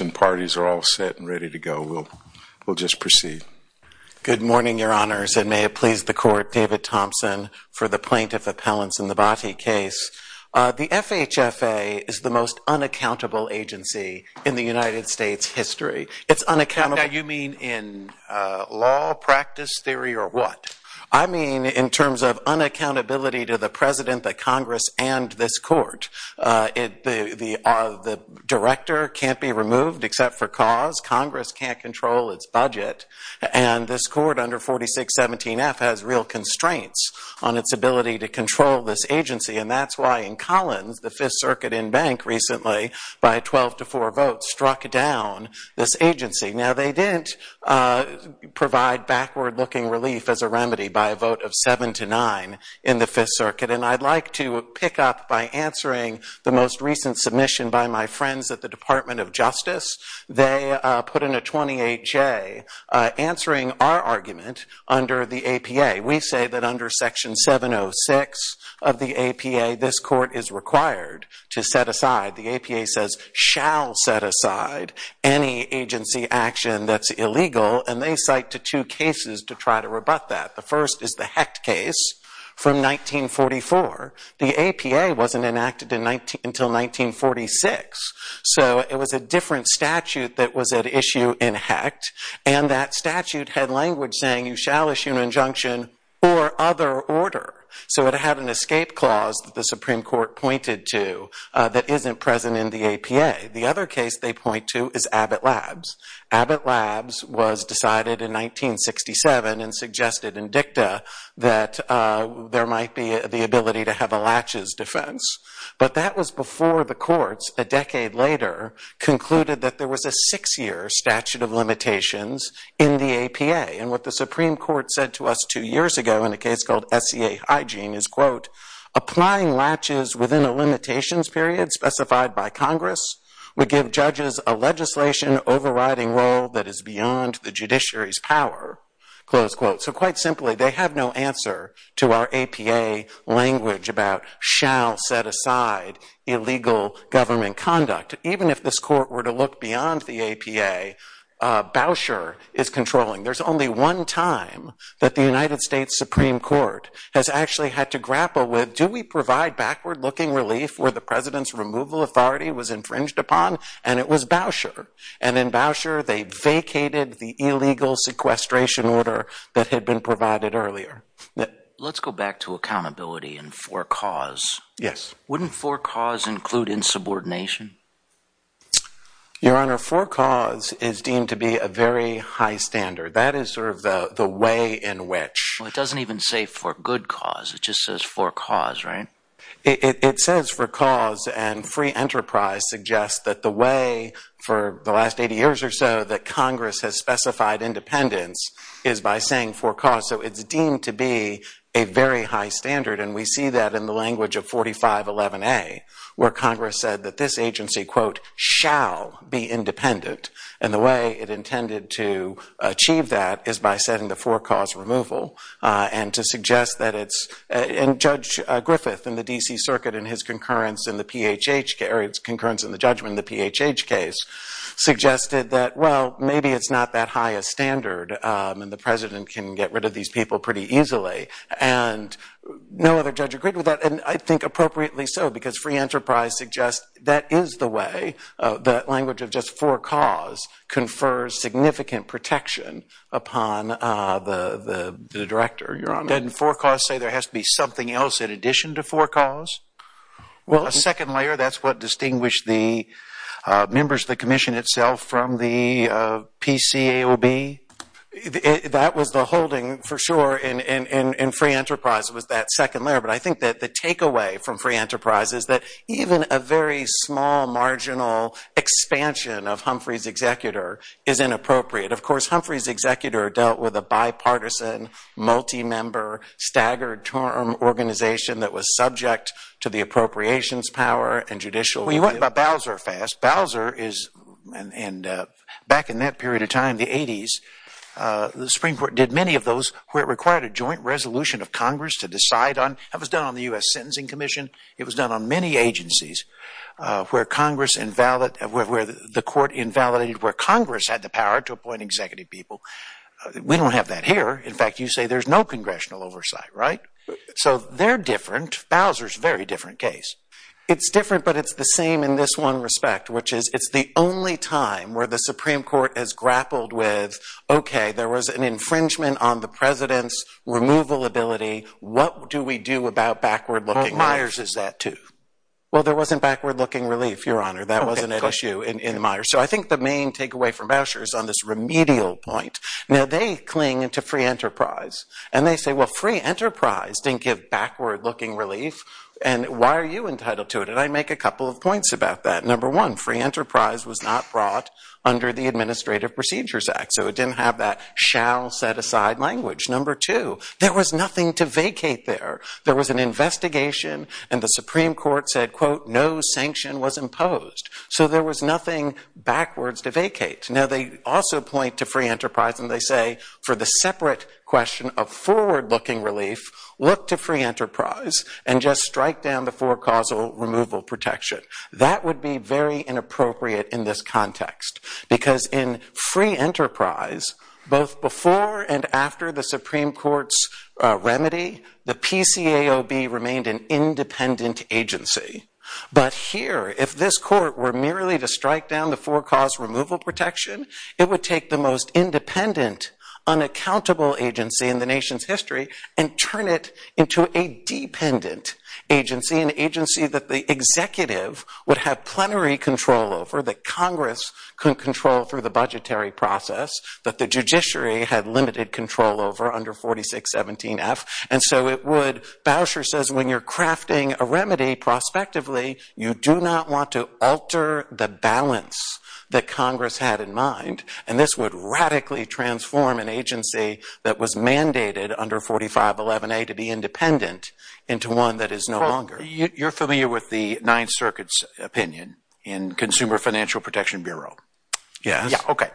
and parties are all set and ready to go. We'll just proceed. Good morning, Your Honors, and may it please the Court, David Thompson, for the Plaintiff Appellants in the Bhatti case. The FHFA is the most unaccountable agency in the United States history. It's unaccountable. Now, you mean in law, practice, theory, or what? I mean in terms of unaccountability to the President, the Congress, and this Court. The Director can't be removed except for cause. Congress can't control its budget. And this Court under 4617F has real constraints on its ability to control this agency. And that's why in Collins, the Fifth Circuit in Bank recently, by 12 to 4 votes, struck down this agency. Now, they didn't provide backward-looking relief as a remedy by a vote of 7 to 9 in the Fifth Circuit. And I'd like to pick up by answering the most recent submission by my friends at the Department of Justice. They put in a 28-J, answering our argument under the APA. We say that under Section 706 of the APA, this Court is required to set aside – the APA says, shall set aside – any agency action that's illegal. And they cite two cases to try to rebut that. The first is the Hecht case from 1944. The APA wasn't enacted until 1946. So it was a different statute that was at issue in Hecht. And that statute had language saying, you shall issue an injunction or other order. So it had an escape clause that the Supreme Court pointed to that isn't present in the APA. The other case they point to is Abbott Labs. Abbott Labs was decided in 1967 and suggested in dicta that there might be the ability to have a latches defense. But that was before the courts, a decade later, concluded that there was a six-year statute of limitations in the APA. And what the Supreme Court said to us two years ago in a case called SEA Hygiene is, quote, applying latches within a limitations period specified by Congress would give judges a legislation overriding role that is beyond the judiciary's power, close quote. So quite simply, they have no answer to our APA language about shall set aside illegal government conduct. Even if this Court were to look beyond the APA, Boucher is controlling. There's only one time that the United States Supreme Court has actually had to grapple with, do we provide backward-looking relief where the President's removal authority was infringed upon? And it was Boucher. And in Boucher, they vacated the illegal sequestration order that had been provided earlier. Let's go back to accountability and for cause. Yes. Wouldn't for cause include insubordination? Your Honor, for cause is deemed to be a very high standard. That is sort of the way in which Well, it doesn't even say for good cause. It just says for cause, right? It says for cause, and free enterprise suggests that the way for the last 80 years or so that Congress has specified independence is by saying for cause. So it's deemed to be a very high standard, and we see that in the language of 4511A, where Congress said that this agency quote shall be independent. And the way it intended to achieve that is by setting the for cause removal, and to suggest that it's – and Judge Griffith in the D.C. Circuit in his concurrence in the PHH – or his concurrence in the judgment in the PHH case suggested that well, maybe it's not that high a standard, and the President can get rid of these people pretty easily. And no other judge agreed with that, and I think appropriately so, because free enterprise suggests that is the way. That language of just for cause confers significant protection upon the Director. Your Honor. Didn't for cause say there has to be something else in addition to for cause? Well, a second layer, that's what distinguished the members of the Commission itself from the PCAOB. That was the holding, for sure, in free enterprise, was that second layer. But I think that the takeaway from free enterprise is that even a very small marginal expansion of Humphrey's executor is inappropriate. Of course, Humphrey's executor dealt with a bipartisan, multi-member, staggered term organization that was subject to the appropriations power and judicial – Let's talk about Bowser fast. Bowser is – and back in that period of time, the 80s, the Supreme Court did many of those where it required a joint resolution of Congress to decide on – that was done on the U.S. Sentencing Commission. It was done on many agencies where Congress invalid – where the court invalidated where Congress had the power to appoint executive people. We don't have that here. In fact, you say there's no congressional oversight, right? So they're different. Bowser's a very different case. It's different, but it's the same in this one respect, which is it's the only time where the Supreme Court has grappled with, okay, there was an infringement on the president's removal ability. What do we do about backward-looking relief? Myers is that, too. Well, there wasn't backward-looking relief, Your Honor. That wasn't an issue in Myers. So I think the main takeaway from Bowser is on this remedial point. Now, they cling to free enterprise, and they say, well, free enterprise didn't give backward-looking relief, and why are you entitled to it? And I make a couple of points about that. Number one, free enterprise was not brought under the Administrative Procedures Act, so it didn't have that shall-set-aside language. Number two, there was nothing to vacate there. There was an investigation, and the Supreme Court said, quote, no sanction was imposed. So there was nothing backwards to vacate. Now, they also point to free enterprise, and they say, for the separate question of forward-looking relief, look to free enterprise and just strike down the four-causal removal protection. That would be very inappropriate in this context because in free enterprise, both before and after the Supreme Court's remedy, the PCAOB remained an independent agency. But here, if this Court were merely to strike down the four-causal removal protection, it would take the most independent, unaccountable agency in the nation's history and turn it into a dependent agency, an agency that the executive would have plenary control over, that Congress could control through the budgetary process, that the judiciary had limited control over under 4617F. And so it would, Bauscher says, when you're crafting a remedy prospectively, you do not want to alter the balance that Congress had in mind, and this would radically transform an agency that was mandated under 4511A to be independent into one that is no longer. Well, you're familiar with the Ninth Circuit's opinion in Consumer Financial Protection Bureau? Yes. Yeah, okay.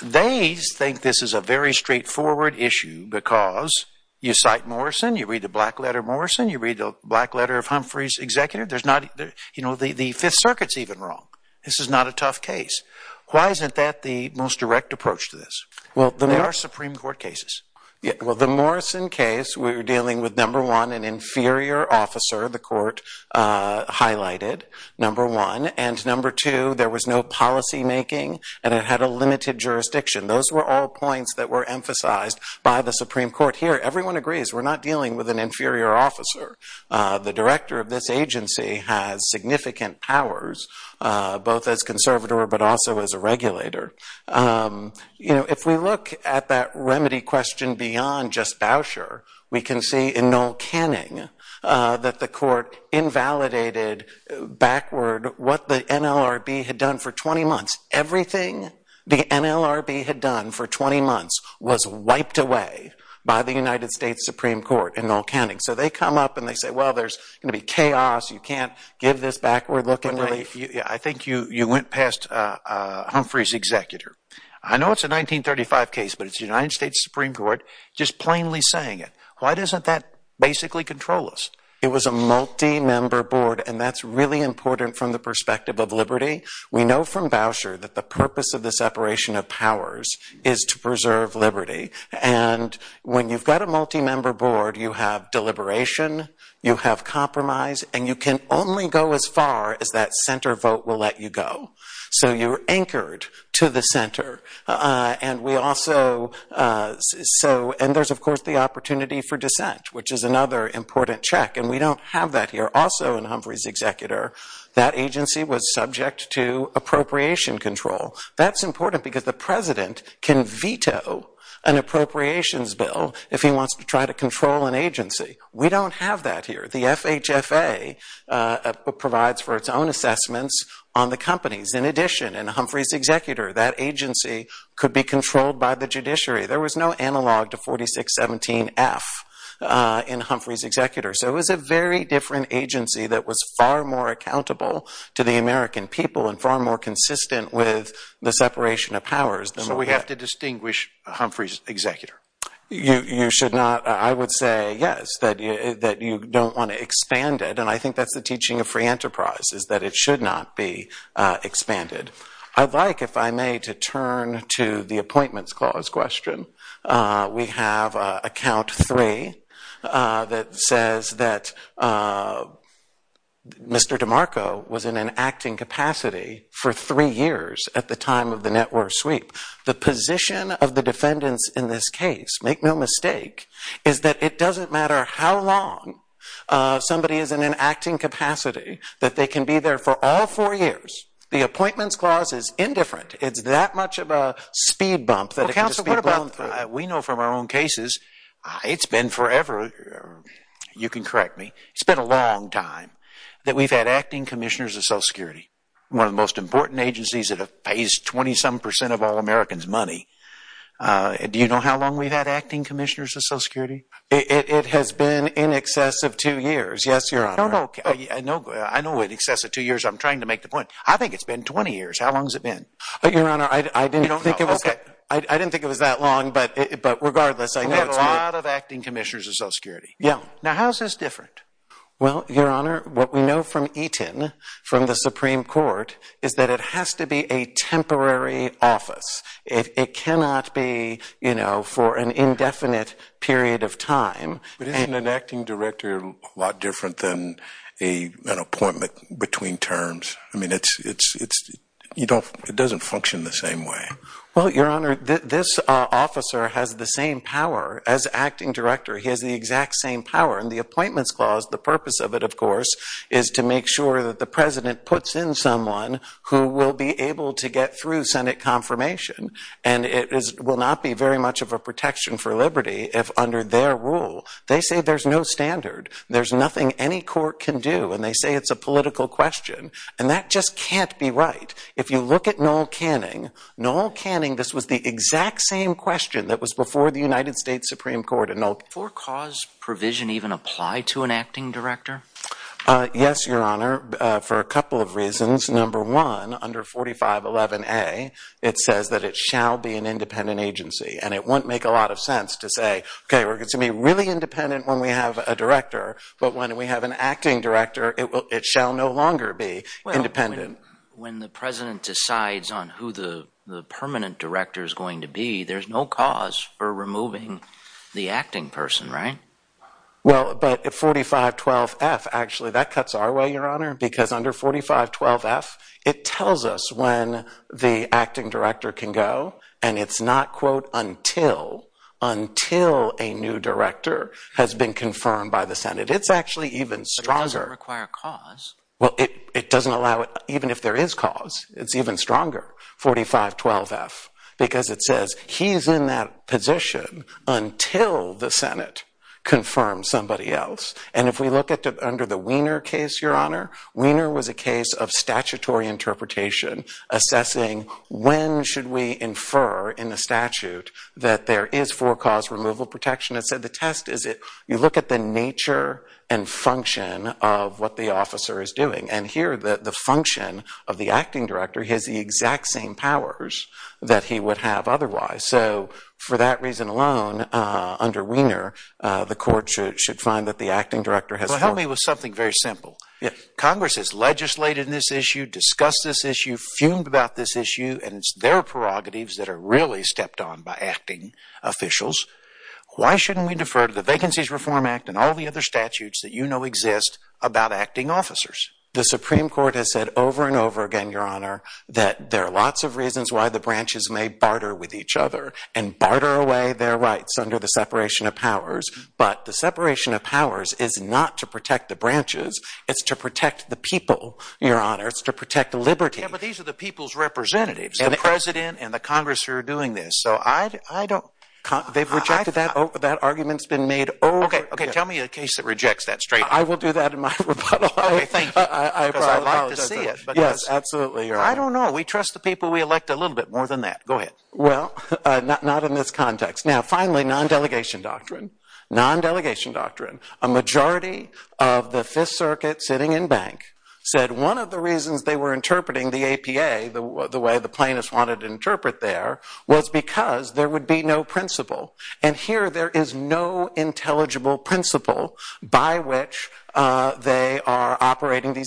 They think this is a very straightforward issue because you cite Morrison, you read the black letter of Morrison, you read the black letter of Humphrey's executive, there's not, you know, the Fifth Circuit's even wrong. This is not a tough case. Why isn't that the most direct approach to this? Well, there are Supreme Court cases. Yeah, well, the Morrison case, we're dealing with, number one, an inferior officer, the Court highlighted, number one. And number two, there was no policymaking and it had a by the Supreme Court. Here, everyone agrees, we're not dealing with an inferior officer. The director of this agency has significant powers, both as conservator but also as a regulator. You know, if we look at that remedy question beyond just Bauscher, we can see in Noel Canning that the Court invalidated backward what the NLRB had done for 20 months. Everything the NLRB had for 20 months was wiped away by the United States Supreme Court and Noel Canning. So they come up and they say, well, there's going to be chaos. You can't give this backward look. I think you went past Humphrey's executor. I know it's a 1935 case, but it's the United States Supreme Court just plainly saying it. Why doesn't that basically control us? It was a multi-member board and that's really important from the perspective of liberty. We know from Bauscher that the purpose of the separation of powers is to preserve liberty and when you've got a multi-member board, you have deliberation, you have compromise, and you can only go as far as that center vote will let you go. So you're anchored to the center and there's, of course, the opportunity for dissent, which is another important check and we don't have that here. Also in Humphrey's executor, that agency was subject to appropriation control. That's important because the president can veto an appropriations bill if he wants to try to control an agency. We don't have that here. The FHFA provides for its own assessments on the companies. In addition, in Humphrey's executor, that agency could be controlled by the judiciary. There was no analog to 4617F in Humphrey's executor. So it was a very different agency that was far more accountable to the American people and far more consistent with the separation of powers. So we have to distinguish Humphrey's executor? You should not, I would say yes, that you don't want to expand it and I think that's the teaching of free enterprise is that it should not be expanded. I'd like, if I may, to turn to the appointments clause question. We have account 3 that says that Mr. DeMarco was in an acting capacity for three years at the time of the network sweep. The position of the defendants in this case, make no mistake, is that it doesn't matter how long somebody is in an acting capacity that they can be there for all four years. The appointments clause is indifferent. It's that much of a speed bump that we know from our own cases. It's been forever. You can correct me. It's been a long time that we've had acting commissioners of social security, one of the most important agencies that have paid 20 some percent of all Americans money. Do you know how long we've had acting commissioners of social security? It has been in excess of two years. I know in excess of two years. I'm trying to make the point. I think it's been 20 years. How long has it been? Your Honor, I didn't think it was that long, but regardless. We've had a lot of acting commissioners of social security. Now, how is this different? Well, Your Honor, what we know from Eaton, from the Supreme Court, is that it has to be a temporary office. It cannot be for an indefinite period of time. But isn't an acting director a lot different than an appointment between terms? I mean, it doesn't function the same way. Well, Your Honor, this officer has the same power as acting director. He has the exact same power. And the appointments clause, the purpose of it, of course, is to make sure that the president puts in someone who will be able to get Senate confirmation. And it will not be very much of a protection for liberty if under their rule, they say there's no standard. There's nothing any court can do. And they say it's a political question. And that just can't be right. If you look at Noel Canning, Noel Canning, this was the exact same question that was before the United States Supreme Court. Does the four-cause provision even apply to an acting director? Yes, Your Honor, for a couple of reasons. Number one, under 4511A, it says that it shall be an independent agency. And it won't make a lot of sense to say, okay, we're going to be really independent when we have a director. But when we have an acting director, it shall no longer be independent. When the president decides on who the permanent director is going to be, there's no cause for removing the acting person, right? Well, but at 4512F, actually, that cuts our way, Your Honor, because under 4512F, it tells us when the acting director can go. And it's not, quote, until, until a new director has been confirmed by the Senate. It's actually even stronger. It doesn't require a cause. Well, it doesn't allow it even if there is cause. It's even stronger, 4512F, because it says he's in that position until the Senate confirms somebody else. And if we look under the Wiener case, Your Honor, Wiener was a case of statutory interpretation assessing when should we infer in the statute that there is four-cause removal protection. It said the test is you look at the nature and function of what the officer is doing. And here, the function of the acting director has the exact same powers that he would have otherwise. So for that reason alone, under Wiener, the court should find that the acting director has four- Well, help me with something very simple. Congress has legislated this issue, discussed this issue, fumed about this issue, and it's their prerogatives that are really stepped on by acting officials. Why shouldn't we defer to the Vacancies Reform Act and all the other statutes that you know exist about acting officers? The Supreme Court has said over and over again, Your Honor, that there are lots of reasons why the branches may barter with each other and barter away their rights under the separation of powers. But the separation of powers is not to protect the branches. It's to protect the people, Your Honor. It's to protect liberty. Yeah, but these are the people's representatives, the President and the Congress who are doing this. So I don't- They've rejected that. That argument's been made over- Okay, okay. Tell me a case that rejects that straight. I will do that in my rebuttal. Okay, thank you. Because I'd like to see it. Yes, absolutely, Your Honor. I don't know. We trust the people we elect a little bit more than that. Go ahead. Well, not in this context. Now, finally, non-delegation doctrine. Non-delegation doctrine. A majority of the Fifth Circuit sitting in bank said one of the reasons they were interpreting the APA the way the plaintiffs wanted to interpret there was because there would be no principle. And here, there is no intelligible principle by which they are for the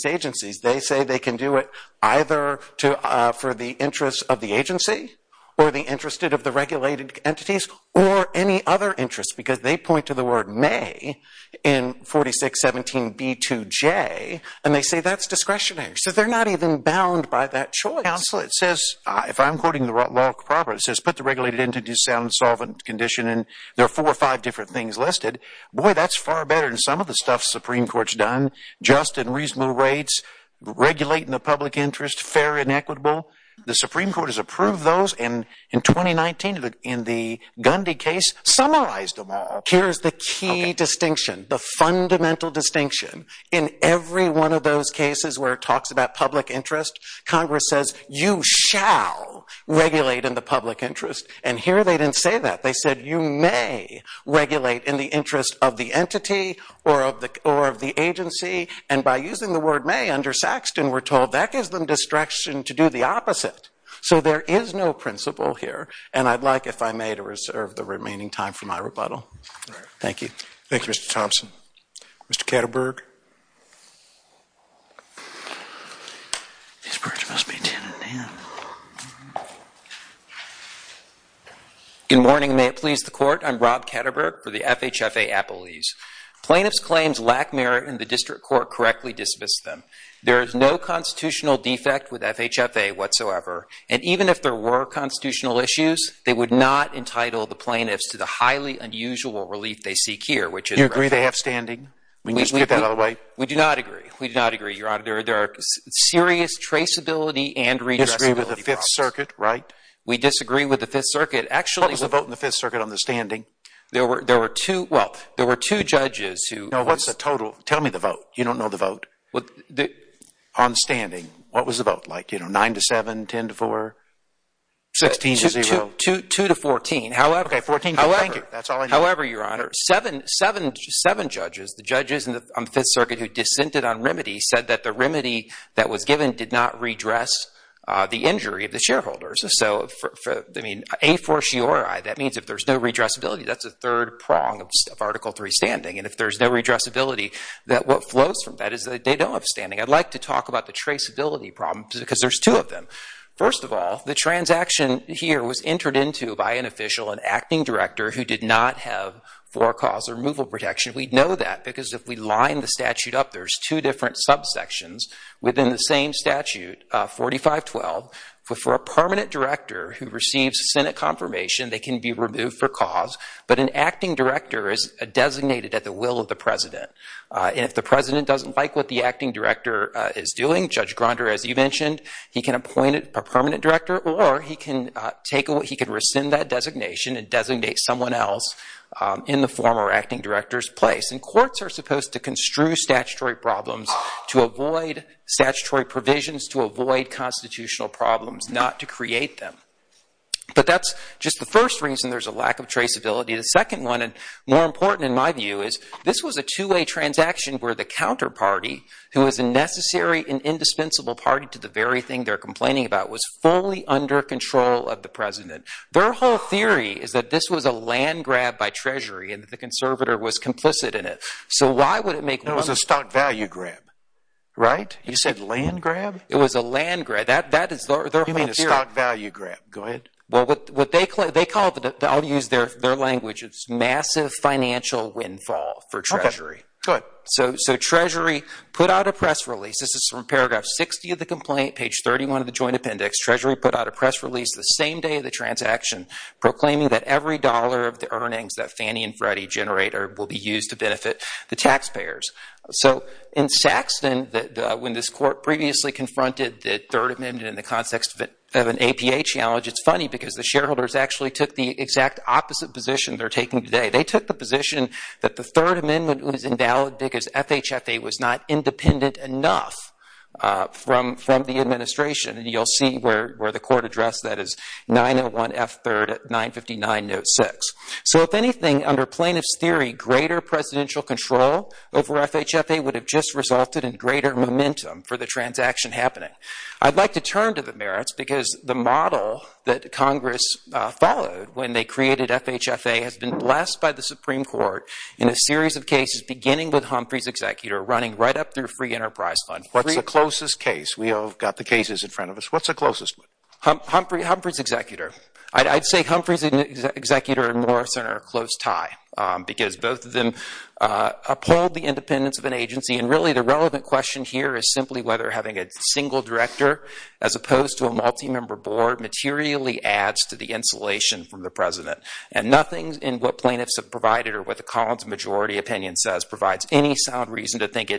interests of the agency or the interest of the regulated entities or any other interests because they point to the word may in 4617B2J and they say that's discretionary. So they're not even bound by that choice. Counsel, it says, if I'm quoting the law proper, it says put the regulated entity sound solvent condition and there are four or five different things listed. Boy, that's far better than some of the stuff the Supreme Court's done. Just and reasonable rates, regulating the public interest, fair and equitable. The Supreme Court has approved those and in 2019, in the Gundy case, summarized them all. Here's the key distinction, the fundamental distinction. In every one of those cases where it talks about public interest, Congress says you shall regulate in the public interest. And here, they didn't say that. They said you may regulate in the interest of the entity or of the agency. And by using the word may under Saxton, we're told that gives them discretion to do the opposite. So there is no principle here and I'd like, if I may, to reserve the remaining time for my rebuttal. Thank you. Thank you, Mr. Thompson. Mr. Ketterberg. These birds must be 10 and 10. Good morning. May it please the Court. I'm Rob Ketterberg for the FHFA Appellees. Plaintiffs' claims lack merit and the district court correctly dismissed them. There is no constitutional defect with FHFA whatsoever. And even if there were constitutional issues, they would not entitle the plaintiffs to the highly unusual relief they seek here. Do you agree they have standing? We do not agree. We do not agree, Your Honor. There are serious traceability and redressability problems. You disagree with the Fifth Circuit, right? We disagree with the Fifth Circuit. What was the vote in the Fifth Circuit on the standing? There were two judges who... No, what's the total? Tell me the vote. You don't know the vote. The... On standing, what was the vote? Like, you know, 9 to 7, 10 to 4, 16 to 0? 2 to 14. However... Okay, 14 to 4. Thank you. That's all I need. However, Your Honor, seven judges, the judges on the Fifth Circuit who dissented on remedy, said that the remedy that was given did not redress the injury of the shareholders. So, I mean, a fortiori, that means if there's no redressability, that's a third prong of Article 3 standing. And if there's no redressability, that what flows from that is that they don't have standing. I'd like to talk about the traceability problem because there's two of them. First of all, the transaction here was entered into by an official, an acting director, who did not have for-cause removal protection. We know that because if we line the statute up, there's two different subsections within the same statute, 4512. For a permanent director who at the will of the president. And if the president doesn't like what the acting director is doing, Judge Gronder, as you mentioned, he can appoint a permanent director or he can rescind that designation and designate someone else in the former acting director's place. And courts are supposed to construe statutory problems to avoid statutory provisions, to avoid constitutional problems, not to create them. But that's just the first reason there's lack of traceability. The second one, and more important in my view, is this was a two-way transaction where the counterparty, who is a necessary and indispensable party to the very thing they're complaining about, was fully under control of the president. Their whole theory is that this was a land grab by Treasury and that the conservator was complicit in it. So why would it make- It was a stock value grab, right? You said land grab? It was a land grab. That is their whole theory. You mean a stock value grab. Go ahead. Well, what they call- I'll use their language. It's massive financial windfall for Treasury. Okay. Go ahead. So Treasury put out a press release. This is from paragraph 60 of the complaint, page 31 of the joint appendix. Treasury put out a press release the same day of the transaction, proclaiming that every dollar of the earnings that Fannie and Freddie generate will be used to benefit the taxpayers. So in Saxton, when this court previously confronted the Third Amendment in the context of an APA challenge, it's funny because the shareholders actually took the exact opposite position they're taking today. They took the position that the Third Amendment was invalid because FHFA was not independent enough from the administration. And you'll see where the court addressed that as 901F3 at 959.06. So if anything, under plaintiff's theory, greater presidential control over FHFA would have just resulted in greater momentum for the transaction happening. I'd like to turn to the merits because the model that Congress followed when they created FHFA has been blessed by the Supreme Court in a series of cases, beginning with Humphrey's executor, running right up through Free Enterprise Fund. What's the closest case? We've got the cases in front of us. What's the closest one? Humphrey's executor. I'd say Humphrey's executor and Morrison are a close tie because both of them upheld the independence of an agency. And really, the relevant question here is simply whether having a single director as opposed to a multi-member board materially adds to the insulation from the president. And nothing in what plaintiffs have provided or what the Collins majority opinion says provides any sound reason to think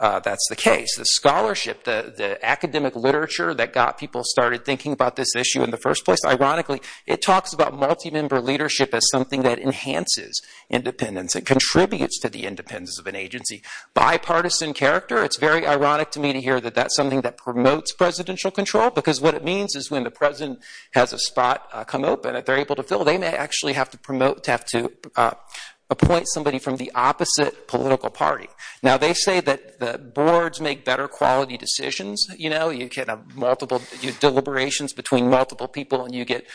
that's the case. The scholarship, the academic literature that got people started thinking about this issue in the first place, ironically, it talks about multi-member leadership as something that enhances independence. It contributes to the independence of an agency. Bipartisan character, it's very ironic to me to hear that that's something that promotes presidential control because what it means is when the president has a spot come open that they're able to fill, they may actually have to promote, to have to appoint somebody from the opposite political party. Now, they say that the boards make better quality decisions. You know, you can have multiple deliberations between multiple people and you get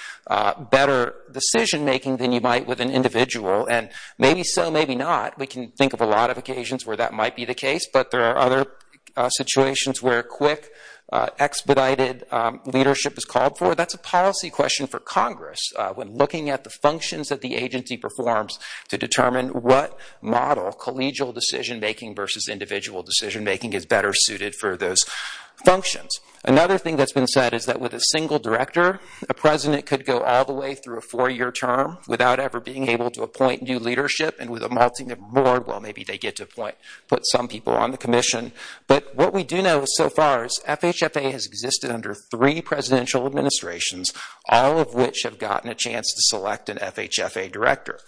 better decision making than you might with an individual. And maybe so, maybe not. We can think of a lot of occasions where that might be the case, but there are other situations where quick, expedited leadership is called for. That's a policy question for Congress when looking at the functions that the agency performs to determine what model collegial decision making versus individual decision making is better suited for those functions. Another thing that's been said is that with a single director, a president could go all the way through a four-year term without ever being able to appoint new leadership. And with a multi-member but what we do know so far is FHFA has existed under three presidential administrations, all of which have gotten a chance to select an FHFA director.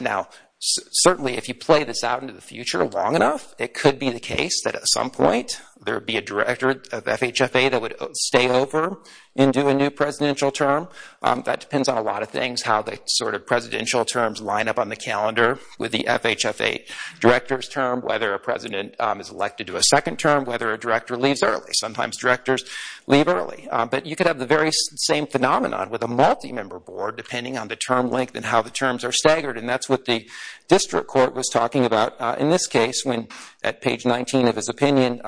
Now, certainly if you play this out into the future long enough, it could be the case that at some point there would be a director of FHFA that would stay over and do a new presidential term. That depends on a lot of things, how the sort of presidential terms line up on the calendar with the FHFA director's term, whether a president is elected to a second term, whether a director leaves early. Sometimes directors leave early, but you could have the very same phenomenon with a multi-member board depending on the term length and how the terms are staggered. And that's what the district court was talking about in this case when at page 19 of his opinion,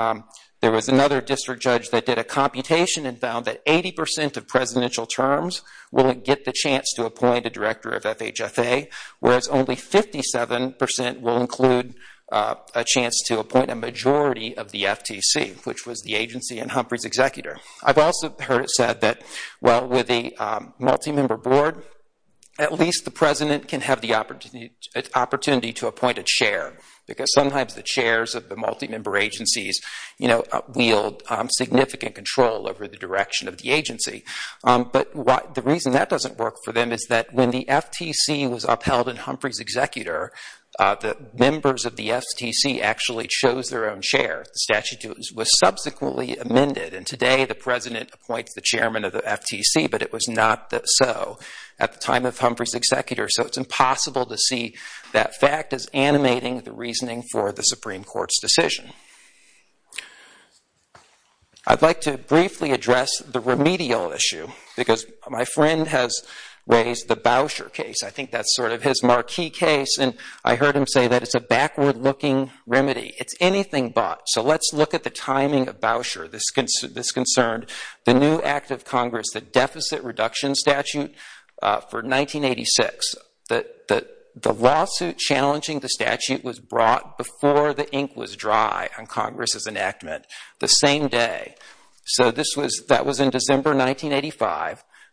there was another district judge that did a computation and found that 80 percent of presidential terms will get the chance to appoint a majority of the FTC, which was the agency and Humphrey's executor. I've also heard it said that while with a multi-member board, at least the president can have the opportunity to appoint a chair because sometimes the chairs of the multi-member agencies wield significant control over the direction of the agency. But the reason that doesn't work for them is that when the FTC was upheld in Humphrey's executor, the members of the FTC actually chose their own chair. The statute was subsequently amended and today the president appoints the chairman of the FTC, but it was not so at the time of Humphrey's executor. So it's impossible to see that fact as animating the reasoning for the Supreme Court's decision. I'd like to briefly address the remedial issue because my friend has raised the Boucher case. I think that's sort of his marquee case, and I heard him say that it's a backward-looking remedy. It's anything but. So let's look at the timing of Boucher. This concerned the new act of Congress, the deficit reduction statute for 1986. The lawsuit challenging the statute was brought before the ink was dry on Congress's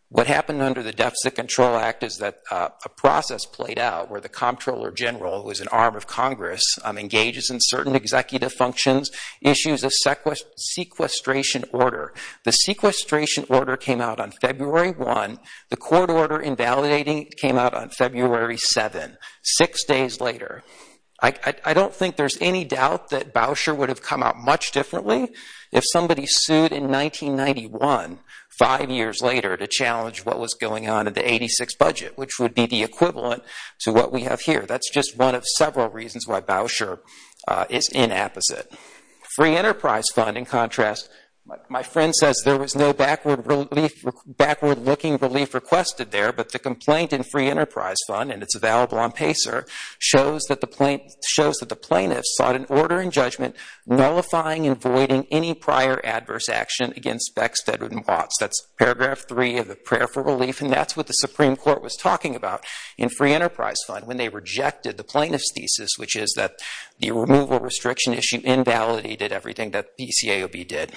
What happened under the Deficit Control Act is that a process played out where the comptroller general, who is an arm of Congress, engages in certain executive functions, issues a sequestration order. The sequestration order came out on February 1. The court order invalidating came out on February 7, six days later. I don't think there's any doubt that Boucher would have come out much differently if somebody sued in 1991, five years later, to challenge what was going on in the 86 budget, which would be the equivalent to what we have here. That's just one of several reasons why Boucher is inapposite. Free Enterprise Fund, in contrast, my friend says there was no backward-looking relief requested there, but the complaint in Free Enterprise Fund, and it's available on PACER, shows that the plaintiffs sought an order in judgment nullifying and voiding any prior adverse action against Beck, Steadman, and Watts. That's paragraph three of the prayer for relief, and that's what the Supreme Court was talking about in Free Enterprise Fund when they rejected the plaintiff's thesis, which is that the removal restriction issue invalidated everything that PCAOB did.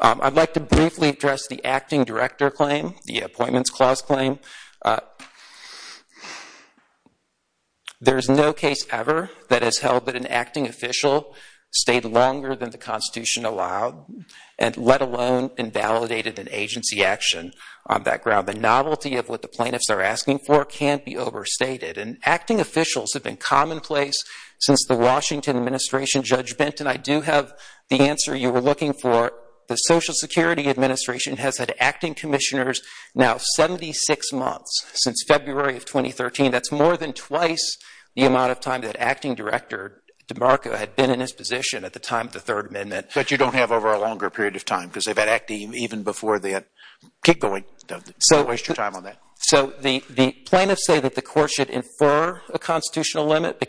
I'd like to briefly address the acting director claim, the appointments clause claim. There's no case ever that has held that an acting official stayed longer than the Constitution allowed, and let alone invalidated an agency action on that ground. The novelty of what the plaintiffs are asking for can't be overstated, and acting officials have been commonplace since the Washington administration judgment, and I do have the answer you were looking for. The Social Security Administration has had acting commissioners now 76 months since February of 2013. That's more than twice the amount of time that acting director DeMarco had been in his position at the time of the Third Amendment. But you don't have over a longer period of time because they've had acting even before that. Keep going. Don't waste your time on that. So the plaintiffs say that the court should infer a constitutional limit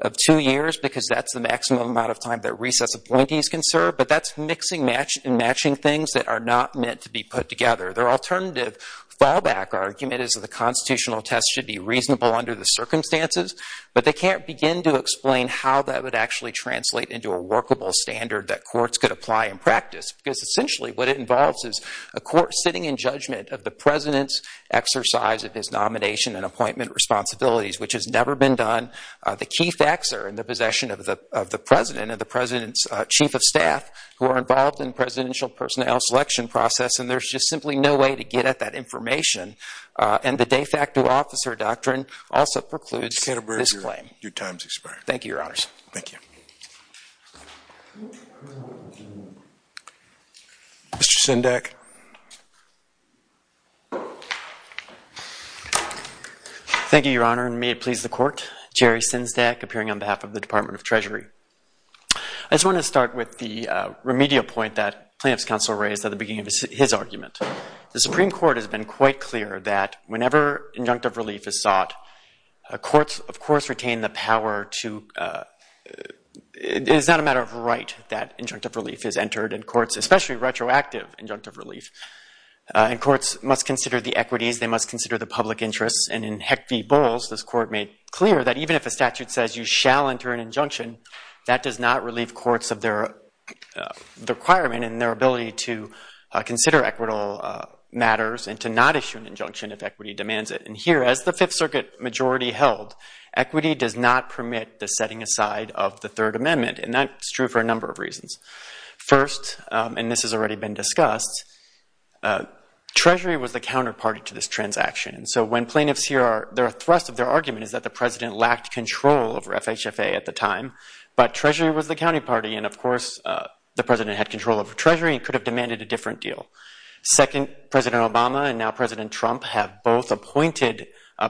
of two years because that's the maximum amount of time that recess appointees can serve, but that's mixing match and matching things that are not meant to be put together. Their alternative fallback argument is that the constitutional test should be reasonable under the circumstances, but they can't begin to explain how that would actually translate into a workable standard that courts could apply in practice, because essentially what it involves is a court sitting in judgment of the president's exercise of his nomination and appointment responsibilities, which has never been done. The key facts are in the possession of of the president and the president's chief of staff who are involved in presidential personnel selection process, and there's just simply no way to get at that information. And the de facto officer doctrine also precludes this claim. Your time's expired. Thank you, your honors. Thank you. Mr. Sendak. Thank you, your honor, and may it please the court. Jerry Sendak appearing on behalf of the Supreme Court. I just want to start with the remedial point that plaintiff's counsel raised at the beginning of his argument. The Supreme Court has been quite clear that whenever injunctive relief is sought, courts of course retain the power to, it is not a matter of right that injunctive relief is entered in courts, especially retroactive injunctive relief. And courts must consider the equities, they must consider the public interests, and in Heck v. Bowles, this court made clear that even if a statute says you shall enter an injunction, that does not relieve courts of their requirement and their ability to consider equitable matters and to not issue an injunction if equity demands it. And here, as the Fifth Circuit majority held, equity does not permit the setting aside of the Third Amendment, and that's true for a number of reasons. First, and this has already been discussed, Treasury was the counterparty to this transaction. So when plaintiffs hear their thrust of their FHFA at the time, but Treasury was the county party and of course the President had control over Treasury and could have demanded a different deal. Second, President Obama and now President Trump have both appointed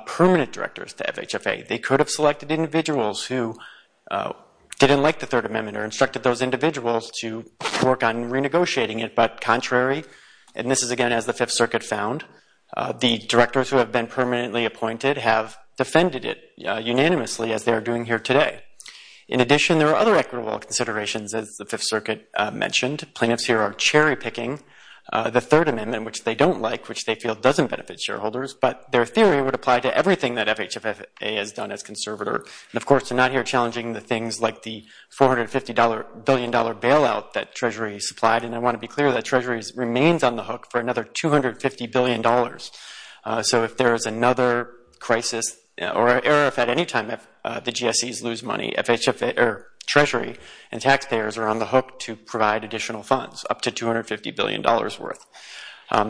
permanent directors to FHFA. They could have selected individuals who didn't like the Third Amendment or instructed those individuals to work on renegotiating it, but contrary, and this is again as the Fifth Circuit found, the directors who have been In addition, there are other equitable considerations, as the Fifth Circuit mentioned. Plaintiffs here are cherry-picking the Third Amendment, which they don't like, which they feel doesn't benefit shareholders, but their theory would apply to everything that FHFA has done as conservator. And of course, they're not here challenging the things like the $450 billion bailout that Treasury supplied, and I want to be clear that Treasury remains on the hook for FHFA. Treasury and taxpayers are on the hook to provide additional funds, up to $250 billion worth.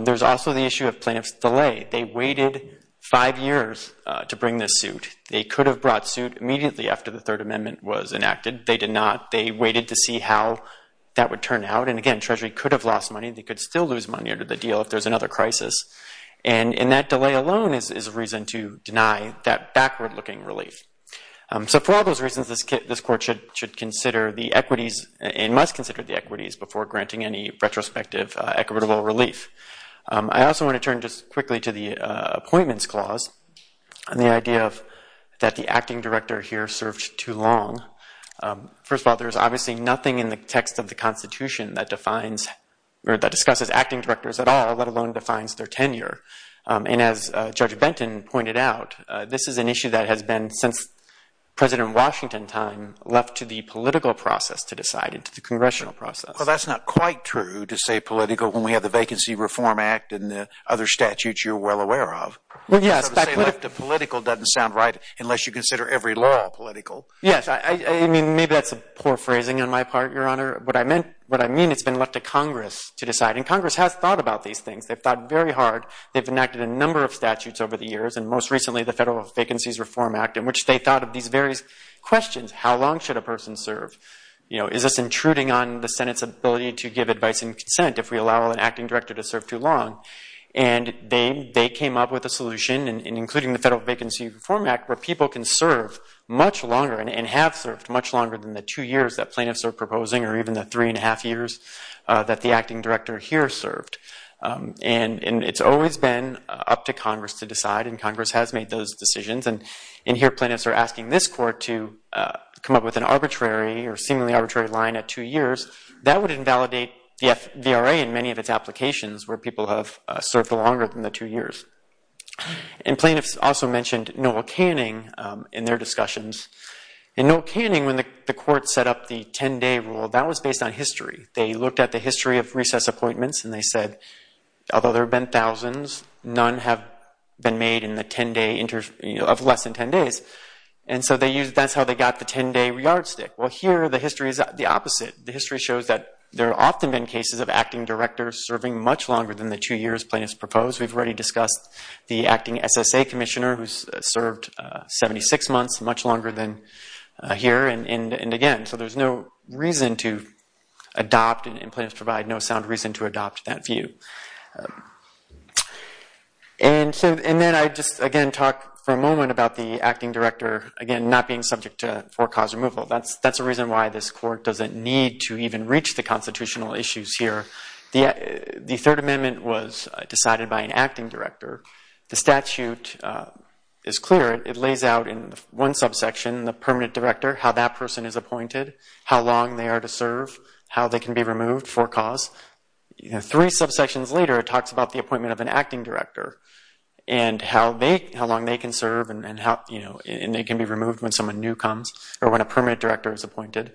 There's also the issue of plaintiffs' delay. They waited five years to bring this suit. They could have brought suit immediately after the Third Amendment was enacted. They did not. They waited to see how that would turn out, and again, Treasury could have lost money. They could still lose money under the deal if there's another crisis, and that delay alone is a reason to deny that backward-looking relief. So for all those reasons, this court should consider the equities and must consider the equities before granting any retrospective equitable relief. I also want to turn just quickly to the appointments clause and the idea that the acting director here served too long. First of all, there's obviously nothing in the text of the Constitution that defines or that discusses acting directors at all, let alone defines their tenure. And as Judge Benton pointed out, this is an issue that has been, since President Washington's time, left to the political process to decide, to the congressional process. Well, that's not quite true to say political when we have the Vacancy Reform Act and the other statutes you're well aware of. Well, yes. So to say left to political doesn't sound right unless you consider every law political. Yes. I mean, maybe that's a poor phrasing on my part, Your Honor. What I mean, it's been left to political. They've enacted a number of statutes over the years, and most recently, the Federal Vacancies Reform Act, in which they thought of these various questions. How long should a person serve? Is this intruding on the Senate's ability to give advice and consent if we allow an acting director to serve too long? And they came up with a solution, including the Federal Vacancy Reform Act, where people can serve much longer and have served much longer than the two years that plaintiffs are proposing or even the three and a half years that the acting director here served. And it's always been up to Congress to decide, and Congress has made those decisions. And here, plaintiffs are asking this court to come up with an arbitrary or seemingly arbitrary line at two years. That would invalidate the VRA in many of its applications where people have served longer than the two years. And plaintiffs also mentioned Noel Canning in their discussions. And Noel Canning, when the court set up the 10-day rule, that was based on history. They looked at the although there have been thousands, none have been made of less than 10 days. And so that's how they got the 10-day yardstick. Well, here the history is the opposite. The history shows that there have often been cases of acting directors serving much longer than the two years plaintiffs propose. We've already discussed the acting SSA commissioner who's served 76 months, much longer than here. And again, so there's no reason to adopt, and plaintiffs provide no sound reason to adopt that view. And then I just, again, talk for a moment about the acting director, again, not being subject to for-cause removal. That's a reason why this court doesn't need to even reach the constitutional issues here. The Third Amendment was decided by an acting director. The statute is clear. It lays out in one subsection, the permanent director, how that three subsections later, it talks about the appointment of an acting director and how long they can serve and they can be removed when someone new comes or when a permanent director is appointed.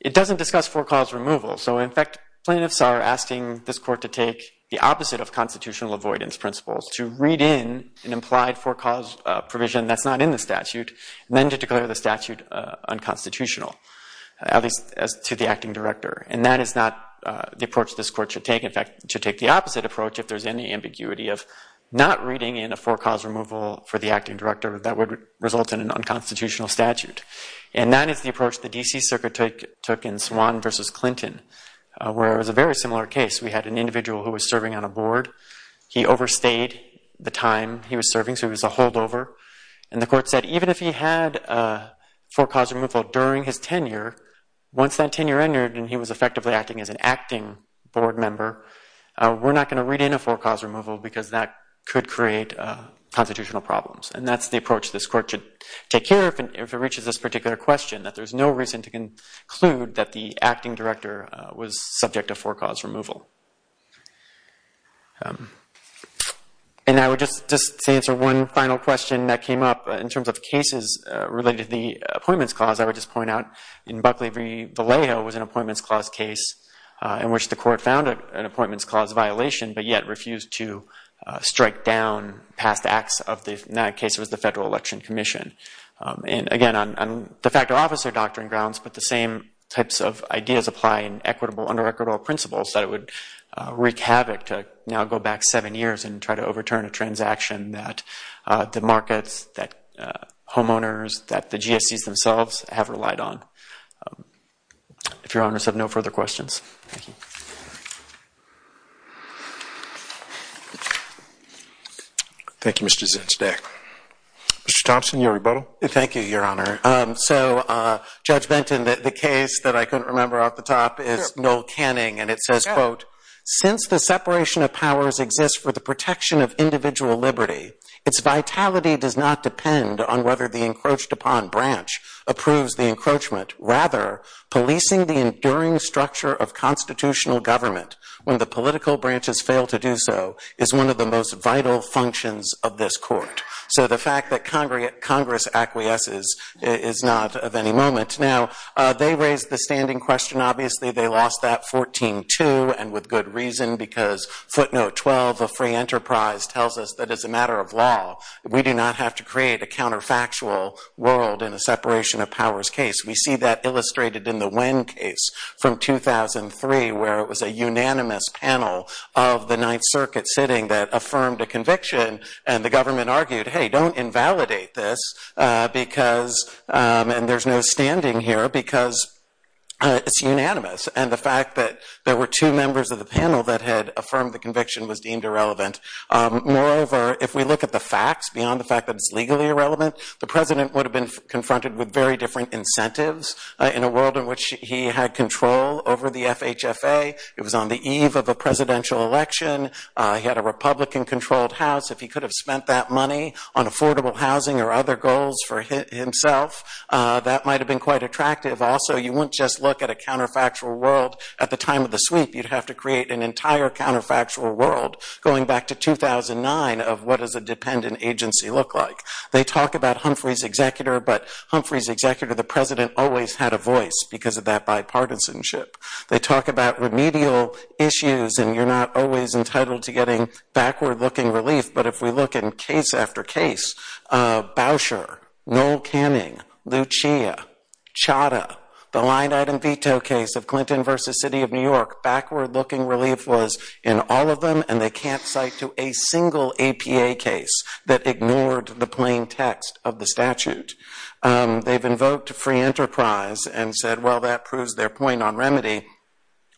It doesn't discuss for-cause removal. So in fact, plaintiffs are asking this court to take the opposite of constitutional avoidance principles, to read in an implied for-cause provision that's not in the statute, and then to declare the statute unconstitutional, at least as to the acting director. And that is not the approach this court should take. In fact, it should take the opposite approach if there's any ambiguity of not reading in a for-cause removal for the acting director that would result in an unconstitutional statute. And that is the approach the D.C. Circuit took in Swan v. Clinton, where it was a very similar case. We had an individual who was serving on a board. He overstayed the time he was serving, so he was a holdover. And the court said, even if he had a for-cause removal during his tenure, once that tenure ended and he was effectively acting as an acting board member, we're not going to read in a for-cause removal because that could create constitutional problems. And that's the approach this court should take here if it reaches this particular question, that there's no reason to conclude that the acting director was subject to for-cause removal. And I would just answer one final question that came up in terms of cases related to the Appointments Clause. I would just point out in Buckley v. Vallejo was an Appointments Clause case in which the court found an Appointments Clause violation but yet refused to strike down past acts of the, in that case it was the Federal Election Commission. And again, on de facto officer doctrine grounds, but the same types of ideas apply in equitable, under equitable principles, that it would the markets, that homeowners, that the GSCs themselves have relied on. If your honors have no further questions. Thank you, Mr. Zinsdak. Mr. Thompson, your rebuttal? Thank you, your honor. So, Judge Benton, the case that I couldn't remember off the top is Noel Canning, and it says, quote, since the separation of powers exists for the protection of individual liberty, its vitality does not depend on whether the encroached upon branch approves the encroachment. Rather, policing the enduring structure of constitutional government when the political branches fail to do so is one of the most vital functions of this court. So, the fact that Congress acquiesces is not of any moment. Now, they raised the standing question, obviously, they lost that 14-2, and with good reason, because footnote 12 of free enterprise tells us that as a matter of law, we do not have to create a counterfactual world in a separation of powers case. We see that illustrated in the Wynn case from 2003, where it was a unanimous panel of the Ninth Circuit sitting that affirmed a conviction, and the government argued, hey, don't invalidate this, because, and there's no standing here, because it's unanimous. And the fact that there were two members of the panel that had affirmed the conviction was deemed irrelevant. Moreover, if we look at the facts beyond the fact that it's legally irrelevant, the president would have been confronted with very different incentives in a world in which he had control over the FHFA. It was on the eve of a presidential election. He had a Republican-controlled house. If he could have spent that money on affordable housing or other goals for himself, that might have been quite attractive. Also, you wouldn't just look at a counterfactual world at the time of the sweep. You'd have to create an entire counterfactual world going back to 2009 of what does a dependent agency look like. They talk about Humphrey's executor, but Humphrey's executor, the president, always had a voice because of that bipartisanship. They talk about remedial issues, and you're not always entitled to getting backward-looking relief. But if we look in case after case, Boucher, Noel Canning, Lucia, Chadha, the line-item veto case of Clinton versus City of New York, backward-looking relief was in all of them, and they can't cite to a single APA case that ignored the plain text of the statute. They've invoked free enterprise and said, well, that proves their point on remedy.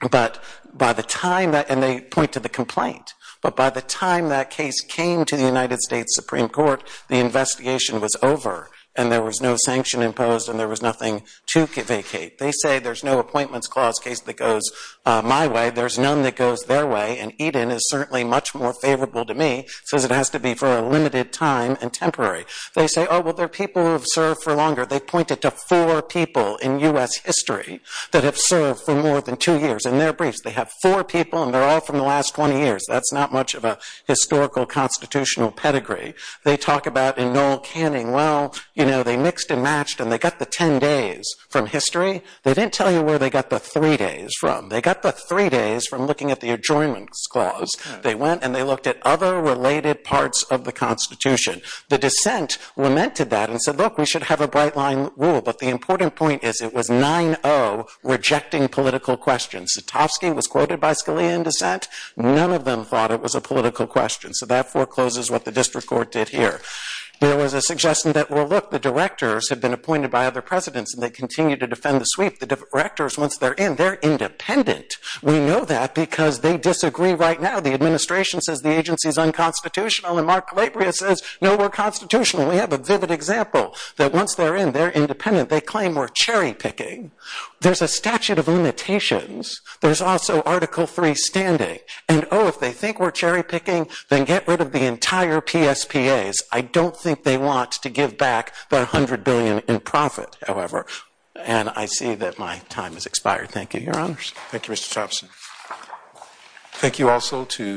And they point to the complaint. But by the time that case came to the United States Supreme Court, the investigation was over, and there was no sanction imposed, and there was nothing to vacate. They say there's no appointments clause case that goes my way. There's none that goes their way, and Eden is certainly much more favorable to me. It says it has to be for a limited time and temporary. They say, oh, well, there are people who have served for longer. They point it to four people in U.S. history that have served for more than two years. In their briefs, they have four people, and they're all from the last 20 years. That's not much of a historical constitutional pedigree. They talk about in Noel Canning, well, you know, they mixed and matched, and they got the 10 days from history. They didn't tell you where they got the three days from. They got the three days from looking at the adjoinments clause. They went, and they looked at other related parts of the Constitution. The dissent lamented that and said, look, we should have a bright line rule, but the important point is it was 9-0 rejecting political questions. Sotofsky was quoted by Scalia in dissent. None of them thought it was a political question, so that forecloses what the district court did here. There was a suggestion that, well, look, the directors have been appointed by other presidents, and they continue to defend the sweep. The directors, once they're in, they're independent. We know that because they disagree right now. The administration says the agency is unconstitutional, and Mark Calabria says, no, we're constitutional. We have a vivid example that, once they're in, they're independent. They claim we're cherry-picking. There's a statute of limitations. There's also Article III standing, and, oh, if they think we're cherry-picking, then get rid of the entire PSPAs. I don't think they want to give back their $100 billion in profit, however, and I see that my time has expired. Thank you, Your Honors. Thank you, Mr. Thompson. Thank you also to